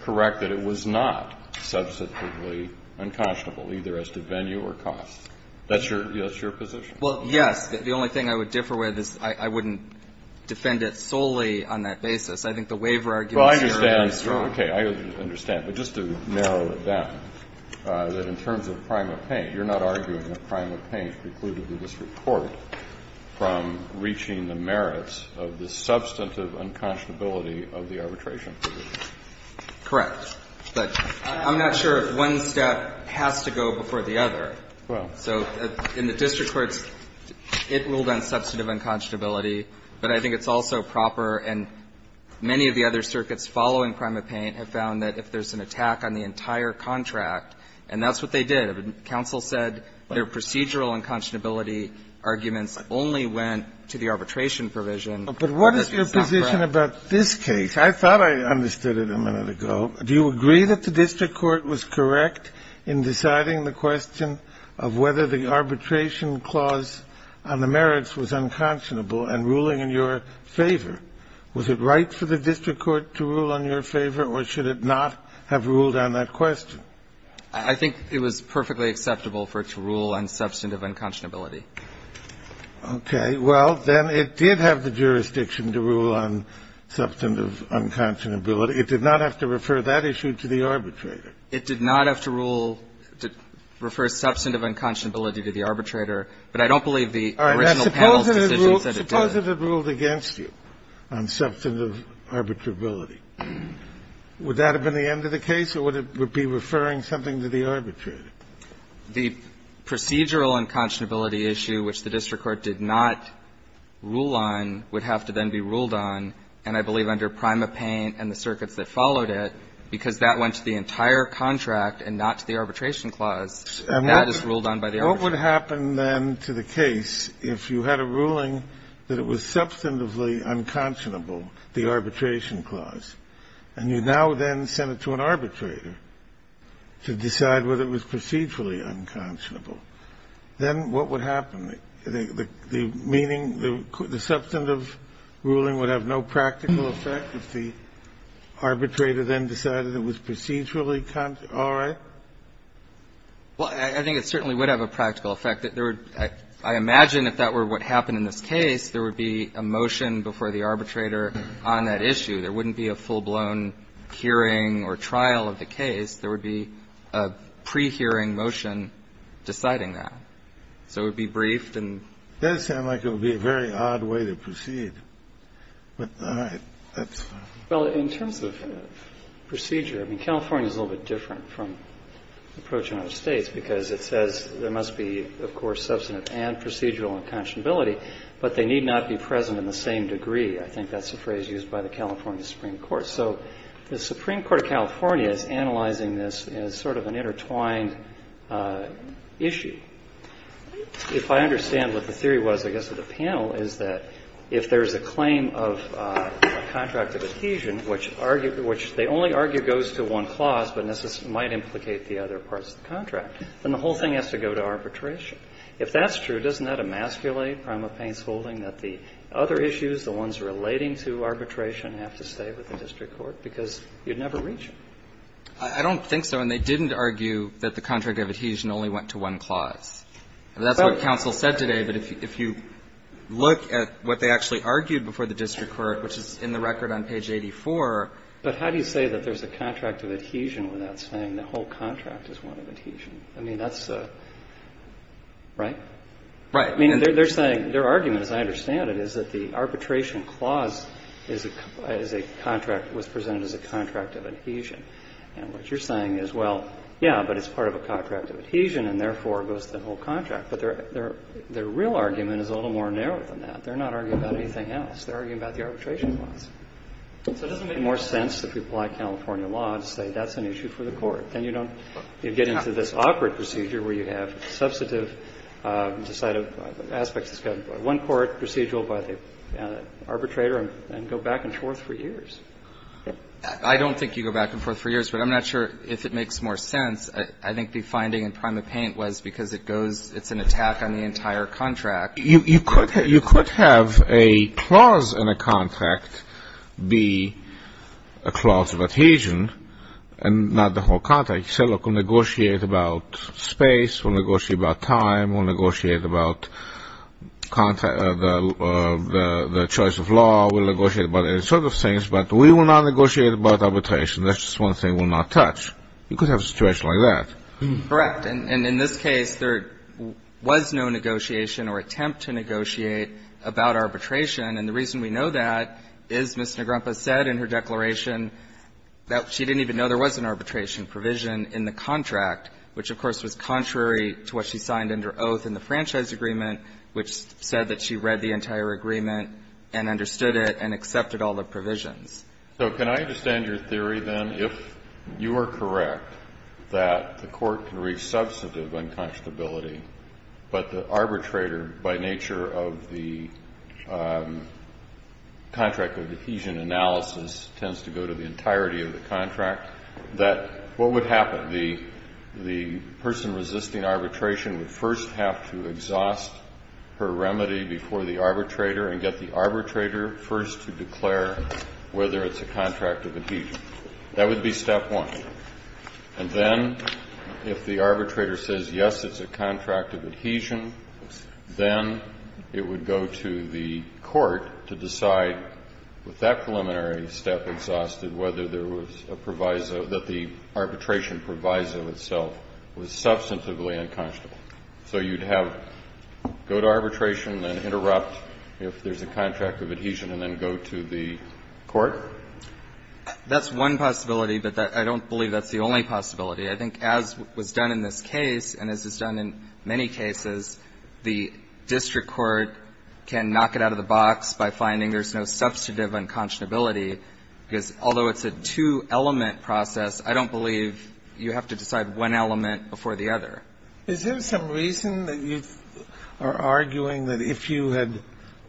correct that it was not substantively unconscionable, either as to venue or cost. That's your position? Well, yes. The only thing I would differ with is I wouldn't defend it solely on that basis. I think the waiver argument is very, very strong. Well, I understand. Okay. I understand. But just to narrow it down, that in terms of PrimaPaint, you're not arguing that PrimaPaint precluded the district court from reaching the merits of the substantive unconscionability of the arbitration provision? Correct. But I'm not sure if one step has to go before the other. Well. So in the district courts, it ruled on substantive unconscionability, but I think it's also proper, and many of the other circuits following PrimaPaint have found that if there's an attack on the entire contract, and that's what they did, counsel said their procedural unconscionability arguments only went to the arbitration provision. But what is your position about this case? I thought I understood it a minute ago. Do you agree that the district court was correct in deciding the question of whether the arbitration clause on the merits was unconscionable and ruling in your favor? Was it right for the district court to rule in your favor, or should it not have ruled on that question? I think it was perfectly acceptable for it to rule on substantive unconscionability. Okay. Well, then it did have the jurisdiction to rule on substantive unconscionability. It did not have to refer that issue to the arbitrator. It did not have to rule to refer substantive unconscionability to the arbitrator, but I don't believe the original panel's decision said it did. Suppose it had ruled against you on substantive arbitrability. Would that have been the end of the case, or would it be referring something to the arbitrator? The procedural unconscionability issue, which the district court did not rule on, would have to then be ruled on, and I believe under PrimaPaint and the circuit that followed it, because that went to the entire contract and not to the arbitration clause, that is ruled on by the arbitrator. And what would happen then to the case if you had a ruling that it was substantively unconscionable, the arbitration clause, and you now then sent it to an arbitrator to decide whether it was procedurally unconscionable, then what would happen? The meaning, the substantive ruling would have no practical effect if the arbitrator then decided it was procedurally all right? Well, I think it certainly would have a practical effect. I imagine if that were what happened in this case, there would be a motion before the arbitrator on that issue. There wouldn't be a full-blown hearing or trial of the case. There would be a pre-hearing motion deciding that. So it would be briefed and that would be a very odd way to proceed. All right. That's fine. Well, in terms of procedure, I mean, California is a little bit different from the approach in other states, because it says there must be, of course, substantive and procedural unconscionability, but they need not be present in the same degree. I think that's the phrase used by the California Supreme Court. So the Supreme Court of California is analyzing this as sort of an intertwined issue. If I understand what the theory was, I guess, of the panel is that if there's a claim of a contract of adhesion, which they only argue goes to one clause, but might implicate the other parts of the contract, then the whole thing has to go to arbitration. If that's true, doesn't that emasculate from a Pence holding that the other issues, the ones relating to arbitration, have to stay with the district court, because you'd never reach it? I don't think so. And they didn't argue that the contract of adhesion only went to one clause. That's what counsel said today, but if you look at what they actually argued before the district court, which is in the record on page 84. But how do you say that there's a contract of adhesion without saying the whole contract is one of adhesion? I mean, that's a right? Right. I mean, they're saying their argument, as I understand it, is that the arbitration clause is a contract, was presented as a contract of adhesion. And what you're saying is, well, yeah, but it's part of a contract of adhesion and, therefore, goes to the whole contract. But their real argument is a little more narrow than that. They're not arguing about anything else. They're arguing about the arbitration clause. So it doesn't make more sense that people like California law to say that's an issue for the court. Then you don't get into this awkward procedure where you have substantive aspects that's got one court, procedural by the arbitrator, and go back and forth for years. I don't think you go back and forth for years, but I'm not sure if it makes more sense. I think the finding in PrimaPaint was because it's an attack on the entire contract. You could have a clause in a contract be a clause of adhesion and not the whole contract. You say, look, we'll negotiate about space. We'll negotiate about time. We'll negotiate about the choice of law. We'll negotiate about any sort of things. But we will not negotiate about arbitration. That's just one thing we'll not touch. You could have a situation like that. Correct. And in this case, there was no negotiation or attempt to negotiate about arbitration. And the reason we know that is Ms. Negrempa said in her declaration that she didn't even know there was an arbitration provision in the contract, which, of course, was contrary to what she signed under oath in the franchise agreement, which said that she read the entire agreement and understood it and accepted all the provisions. So can I understand your theory, then, if you are correct that the court can reach substantive unconscionability, but the arbitrator, by nature of the contract of adhesion analysis, tends to go to the entirety of the contract, that what would happen? The person resisting arbitration would first have to exhaust her remedy before the arbitration, whether it's a contract of adhesion. That would be step one. And then, if the arbitrator says, yes, it's a contract of adhesion, then it would go to the court to decide, with that preliminary step exhausted, whether there was a proviso that the arbitration proviso itself was substantively unconscionable. So you'd have to go to arbitration and interrupt if there's a contract of adhesion and then go to the court? That's one possibility, but I don't believe that's the only possibility. I think as was done in this case, and as is done in many cases, the district court can knock it out of the box by finding there's no substantive unconscionability, because although it's a two-element process, I don't believe you have to decide one element before the other. Is there some reason that you are arguing that if you had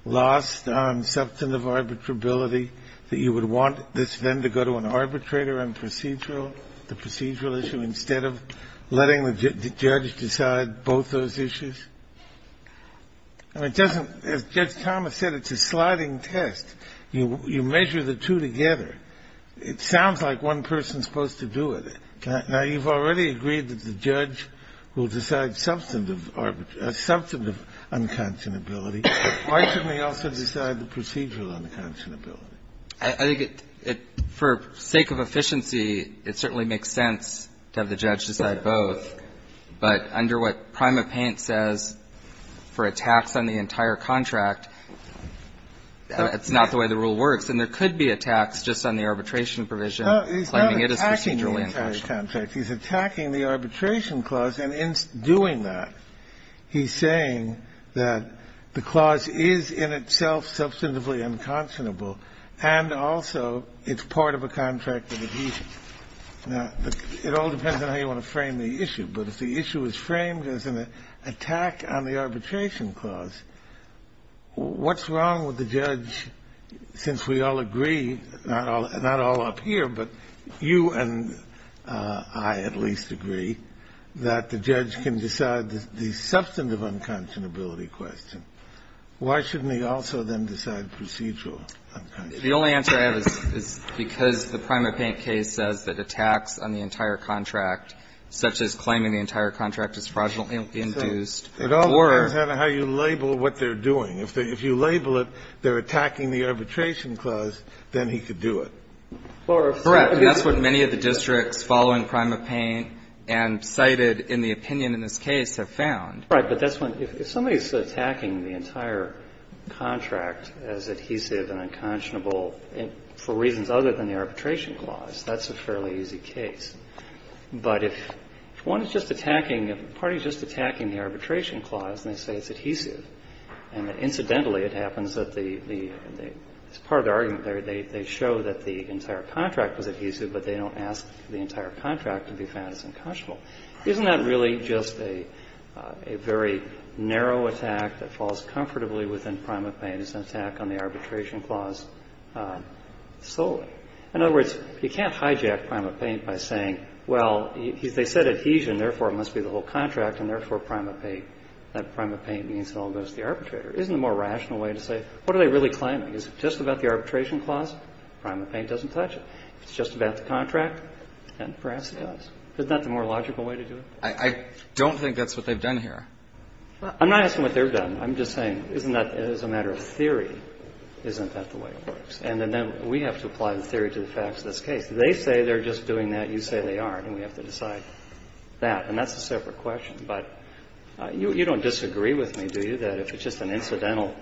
lost on substantive arbitrability, that you would want this then to go to an arbitrator on procedural issues instead of letting the judge decide both those issues? I mean, it doesn't – as Judge Thomas said, it's a sliding test. You measure the two together. It sounds like one person is supposed to do it. Now, you've already agreed that the judge will decide substantive arbitrage – substantive unconscionability. Why shouldn't he also decide the procedural unconscionability? I think it – for sake of efficiency, it certainly makes sense to have the judge decide both. But under what PrimaPaint says, for a tax on the entire contract, that's not the way the rule works. And there could be a tax just on the arbitration provision, claiming it is procedurally unconscionable. He's attacking the arbitration clause, and in doing that, he's saying that the clause is in itself substantively unconscionable, and also it's part of a contract of adhesion. Now, it all depends on how you want to frame the issue, but if the issue is framed as an attack on the arbitration clause, what's wrong with the judge, since we all agree – not all up here, but you and I at least agree – that the judge can decide the substantive unconscionability question. Why shouldn't he also then decide procedural unconscionability? The only answer I have is because the PrimaPaint case says that a tax on the entire contract, such as claiming the entire contract is fraudulently induced, or – It all depends on how you label what they're doing. If you label it, they're attacking the arbitration clause, then he could do it. Correct. And that's what many of the districts following PrimaPaint and cited in the opinion in this case have found. Right. But that's when – if somebody's attacking the entire contract as adhesive and unconscionable for reasons other than the arbitration clause, that's a fairly easy case. But if one is just attacking – if a party is just attacking the arbitration clause and they say it's adhesive, and incidentally it happens that the – as part of the argument there, they show that the entire contract was adhesive, but they don't ask for the entire contract to be found as unconscionable, isn't that really just a very narrow attack that falls comfortably within PrimaPaint as an attack on the arbitration clause solely? In other words, you can't hijack PrimaPaint by saying, well, they said adhesion, therefore it must be the whole contract, and therefore PrimaPaint – that PrimaPaint means it all goes to the arbitrator. Isn't the more rational way to say, what are they really claiming? Is it just about the arbitration clause? PrimaPaint doesn't touch it. If it's just about the contract, then perhaps it does. Isn't that the more logical way to do it? I don't think that's what they've done here. I'm not asking what they've done. I'm just saying, isn't that – as a matter of theory, isn't that the way it works? And then we have to apply the theory to the facts of this case. They say they're just doing that. You say they aren't. And we have to decide that. And that's a separate question. But you don't disagree with me, do you, that if it's just an incidental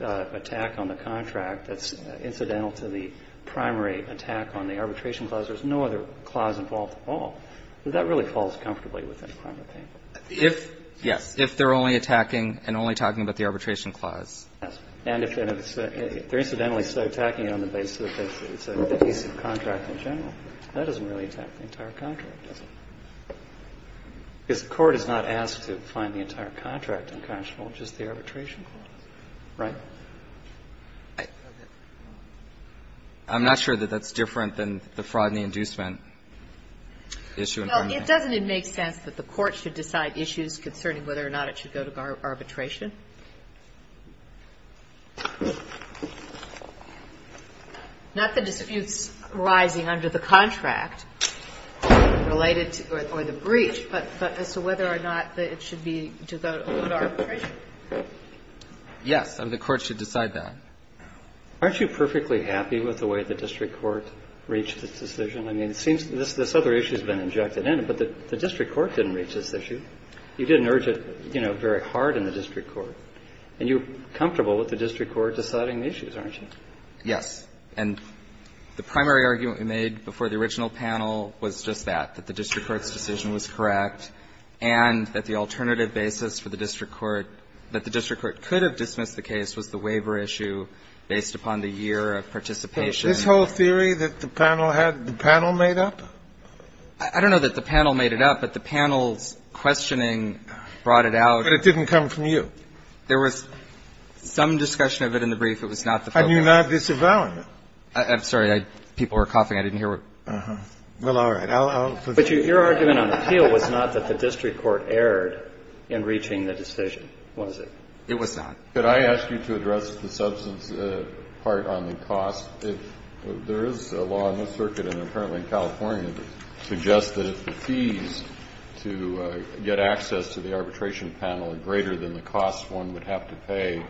attack on the contract that's incidental to the primary attack on the arbitration clause, there's no other clause involved at all, that that really falls comfortably within PrimaPaint? Yes. If they're only attacking and only talking about the arbitration clause. Yes. And if they're incidentally attacking it on the basis that it's an adhesive contract in general, that doesn't really attack the entire contract, does it? Because the Court is not asked to find the entire contract unconscionable, just the arbitration clause, right? I'm not sure that that's different than the fraud and the inducement issue in PrimaPaint. Well, doesn't it make sense that the Court should decide issues concerning whether or not it should go to arbitration? Not the disputes arising under the contract related to or the breach, but as to whether or not it should be to go to arbitration. Yes. The Court should decide that. Aren't you perfectly happy with the way the district court reached this decision? I mean, it seems this other issue has been injected in, but the district court didn't reach this issue. You didn't urge it, you know, very hard in the district court. And you're comfortable with the district court deciding the issues, aren't you? Yes. And the primary argument we made before the original panel was just that, that the district court's decision was correct and that the alternative basis for the district court, that the district court could have dismissed the case, was the waiver issue based upon the year of participation. This whole theory that the panel had, the panel made up? I don't know that the panel made it up, but the panel's questioning brought it out. But it didn't come from you? There was some discussion of it in the brief. It was not the public. And you're not disavowing it? I'm sorry. People were coughing. I didn't hear what you said. Well, all right. I'll forgive you. But your argument on the appeal was not that the district court erred in reaching the decision, was it? It was not. Could I ask you to address the substance part on the cost? There is a law in this circuit, and apparently in California, that suggests that the fees to get access to the arbitration panel are greater than the costs one would have to pay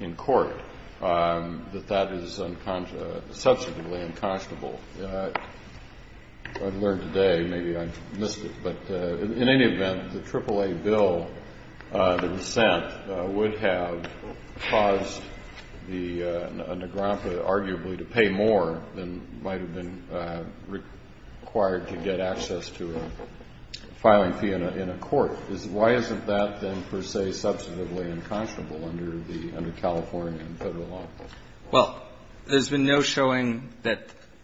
in court, that that is substantively unconscionable. I've learned today, maybe I've missed it, but in any event, the AAA bill that was sent would have caused the nagrampa, arguably, to pay more than might have been required to get access to a filing fee in a court. Why isn't that, then, per se, substantively unconscionable under the California federal law? Well, there's been no showing that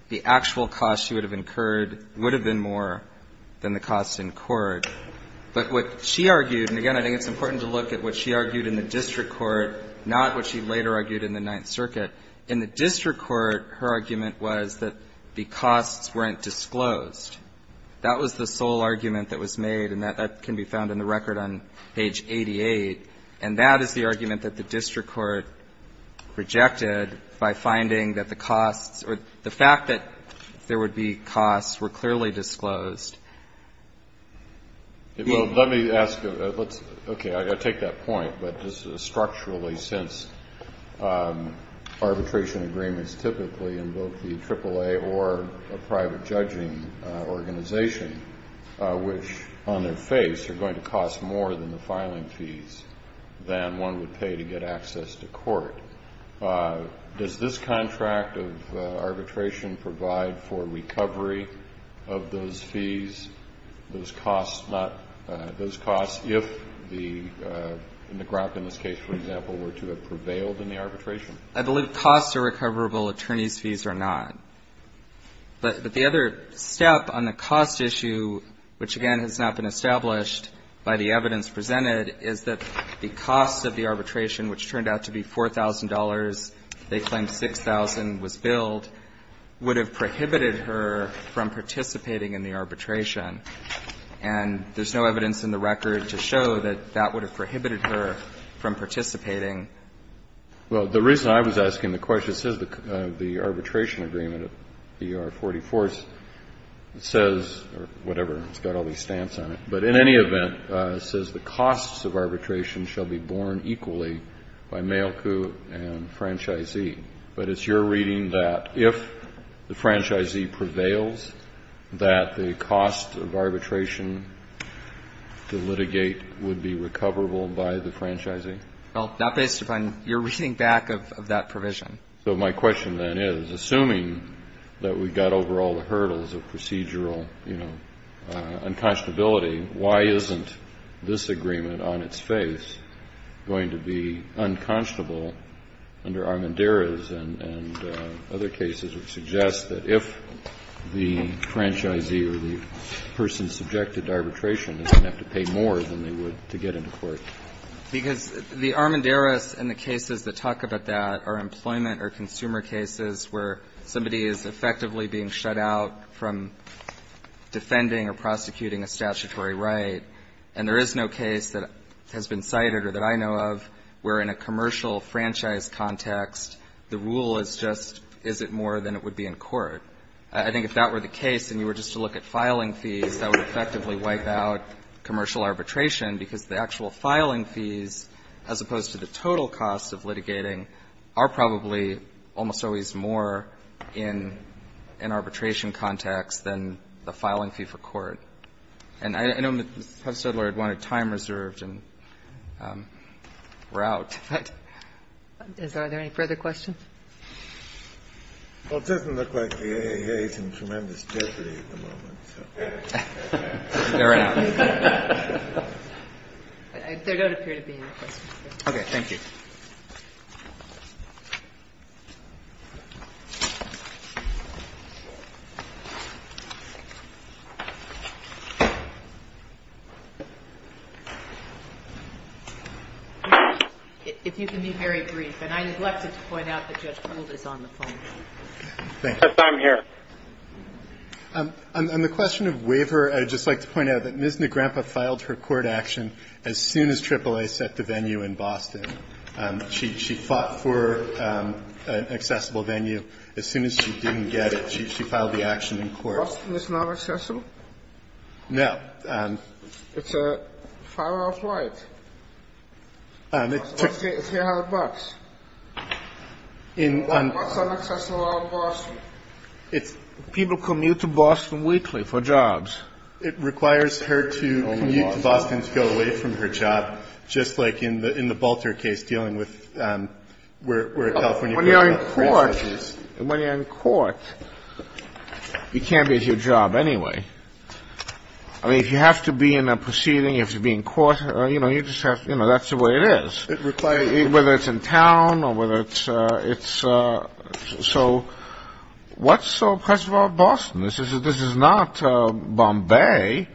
the actual cost you would have incurred would have been more than the cost incurred. But what she argued, and again, I think it's important to look at what she argued in the district court, not what she later argued in the Ninth Circuit. In the district court, her argument was that the costs weren't disclosed. That was the sole argument that was made, and that can be found in the record on page 88, and that is the argument that the district court rejected by finding that the costs or the fact that there would be costs were clearly disclosed. Well, let me ask you, let's, okay, I take that point, but just structurally since arbitration agreements typically invoke the AAA or a private judging organization, which on their face are going to cost more than the filing fees than one would pay to get access to court, does this contract of arbitration provide for recovery of those fees, those costs, if the nagrampa, in this case, for example, were to be able to pay or to have prevailed in the arbitration? I believe costs are recoverable, attorneys' fees are not. But the other step on the cost issue, which, again, has not been established by the evidence presented, is that the cost of the arbitration, which turned out to be $4,000, they claimed $6,000 was billed, would have prohibited her from participating in the arbitration, and there's no evidence in the record to show that that would have prohibited her from participating. Well, the reason I was asking the question, it says the arbitration agreement of ER44 says, or whatever, it's got all these stamps on it, but in any event, it says the costs of arbitration shall be borne equally by mail coup and franchisee. But it's your reading that if the franchisee prevails, that the cost of arbitration to litigate would be recoverable by the franchisee? Well, that's based upon your reading back of that provision. So my question, then, is, assuming that we've got over all the hurdles of procedural, you know, unconscionability, why isn't this agreement on its face going to be unconscionable under Armendariz and other cases which suggest that if the franchisee or the person subjected to arbitration doesn't have to pay more than they would to get into court? Because the Armendariz and the cases that talk about that are employment or consumer cases where somebody is effectively being shut out from defending or prosecuting a statutory right, and there is no case that has been cited or that I know of where in a commercial franchise context the rule is just, is it more than it would be in court? I think if that were the case and you were just to look at filing fees, that would effectively wipe out commercial arbitration, because the actual filing fees, as opposed to the total cost of litigating, are probably almost always more in an arbitration context than the filing fee for court. And I know Mr. Stoddard wanted time reserved, and we're out. Are there any further questions? Well, it doesn't look like the AIA is in tremendous jeopardy at the moment. They're out. There don't appear to be any questions. Okay. Thank you. If you can be very brief. And I neglected to point out that Judge Proulx is on the phone. Yes, I'm here. On the question of waiver, I'd just like to point out that Ms. Negrempa filed her court action as soon as AAA set the venue in Boston. She fought for an accessible venue. As soon as she didn't get it, she filed the action in court. Boston is not accessible? No. It's a far off right. It's $300. $300 on access to Boston. People commute to Boston weekly for jobs. It requires her to commute to Boston to go away from her job, just like in the Bolter case dealing with where a California court of appearance issues. When you're in court, you can't be at your job anyway. I mean, if you have to be in a proceeding, if you're being caught, you know, that's the way it is. Whether it's in town or whether it's it's so what's so special about Boston? This is this is not Bombay.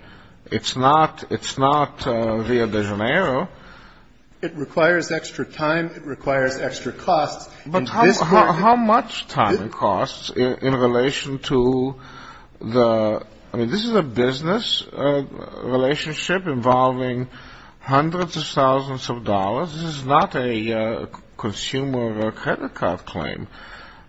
It's not. It's not Rio de Janeiro. It requires extra time. It requires extra costs. But how much time and costs in relation to the I mean, this is a business relationship involving hundreds of thousands of dollars. This is not a consumer credit card claim.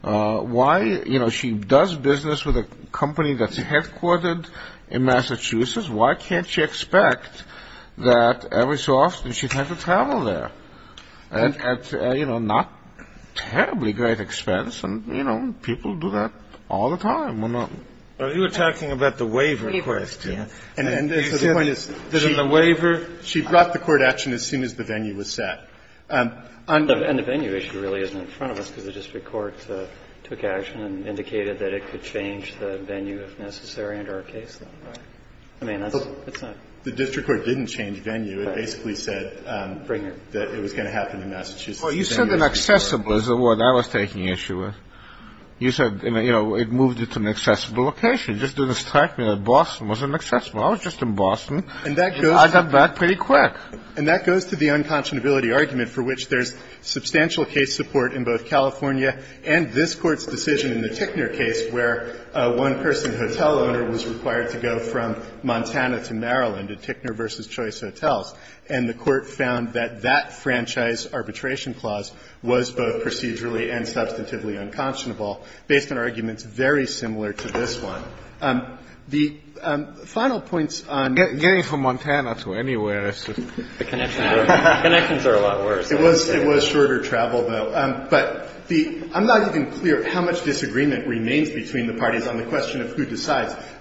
Why? You know, she does business with a company that's headquartered in Massachusetts. Why can't you expect that every so often she'd have to travel there and, you know, not terribly great expense? And, you know, people do that all the time. Well, you were talking about the waiver request. And then the point is that in the waiver, she brought the court action as soon as the venue was set on the venue. It really isn't in front of us because the district court took action and indicated that it could change the venue if necessary. And our case, I mean, that's the district court didn't change venue. It basically said that it was going to happen in Massachusetts. Well, you said an accessible is what I was taking issue with. You said, you know, it moved it to an accessible location. You just didn't strike me that Boston was an accessible. I was just in Boston. And I got back pretty quick. And that goes to the unconscionability argument for which there's substantial case support in both California and this Court's decision in the Tickner case where one person, hotel owner, was required to go from Montana to Maryland at Tickner v. Choice Hotels, and the Court found that that franchise arbitration clause was both procedurally and substantively unconscionable based on arguments very similar to this one. The final points on the other side of the argument are that there's substantial case support in both California and this Court's decision in the Tickner case where one person, hotel owner, was required to go from Montana to Maryland at Tickner v. Choice Hotels, and the Court found that that franchise arbitration clause was both one. And the final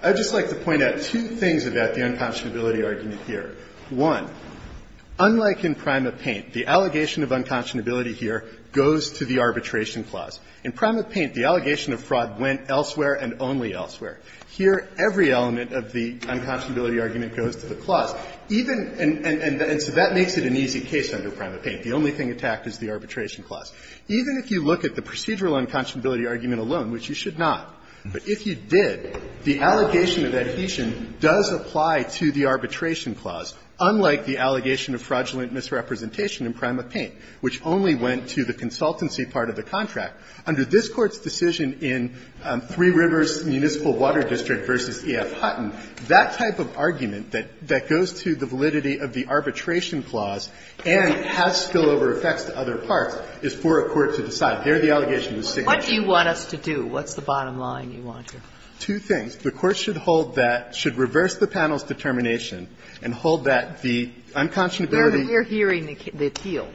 point on the other side of the argument is that there's substantial case support in both California and this Court's decision in the Tickner case where one person, hotel owner, was required to go from Montana to Maryland at Tickner v. Choice Hotels, and the Court found that there's substantial case support in both water district v. E.F. Hutton. That type of argument that goes to the validity of the arbitration clause and has spillover effects to other parts is for a court to decide. There, the allegation was signature. Ginsburg. What do you want us to do? What's the bottom line you want to do? Two things. The Court should hold that, should reverse the panel's determination and hold that the unconscionability. We're re-hearing the appeal.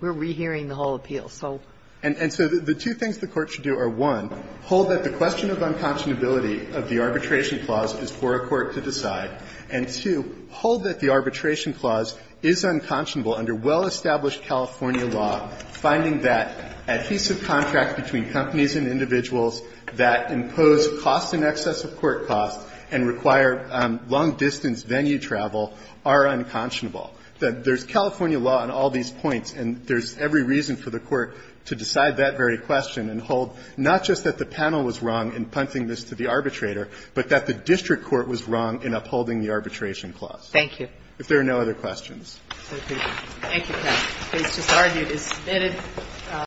We're re-hearing the whole appeal. So. And so the two things the Court should do are, one, hold that the question of unconscionability of the arbitration clause is for a court to decide, and, two, hold that the arbitration clause is unconscionable under well-established California law, finding that adhesive contracts between companies and individuals that impose costs in excess of court costs and require long-distance venue travel are unconscionable. There's California law on all these points, and there's every reason for the Court to decide that very question and hold not just that the panel was wrong in punting this to the arbitrator, but that the district court was wrong in upholding the arbitration clause. Thank you. If there are no other questions. Thank you. Thank you, Ken. It was just argued. It's submitted.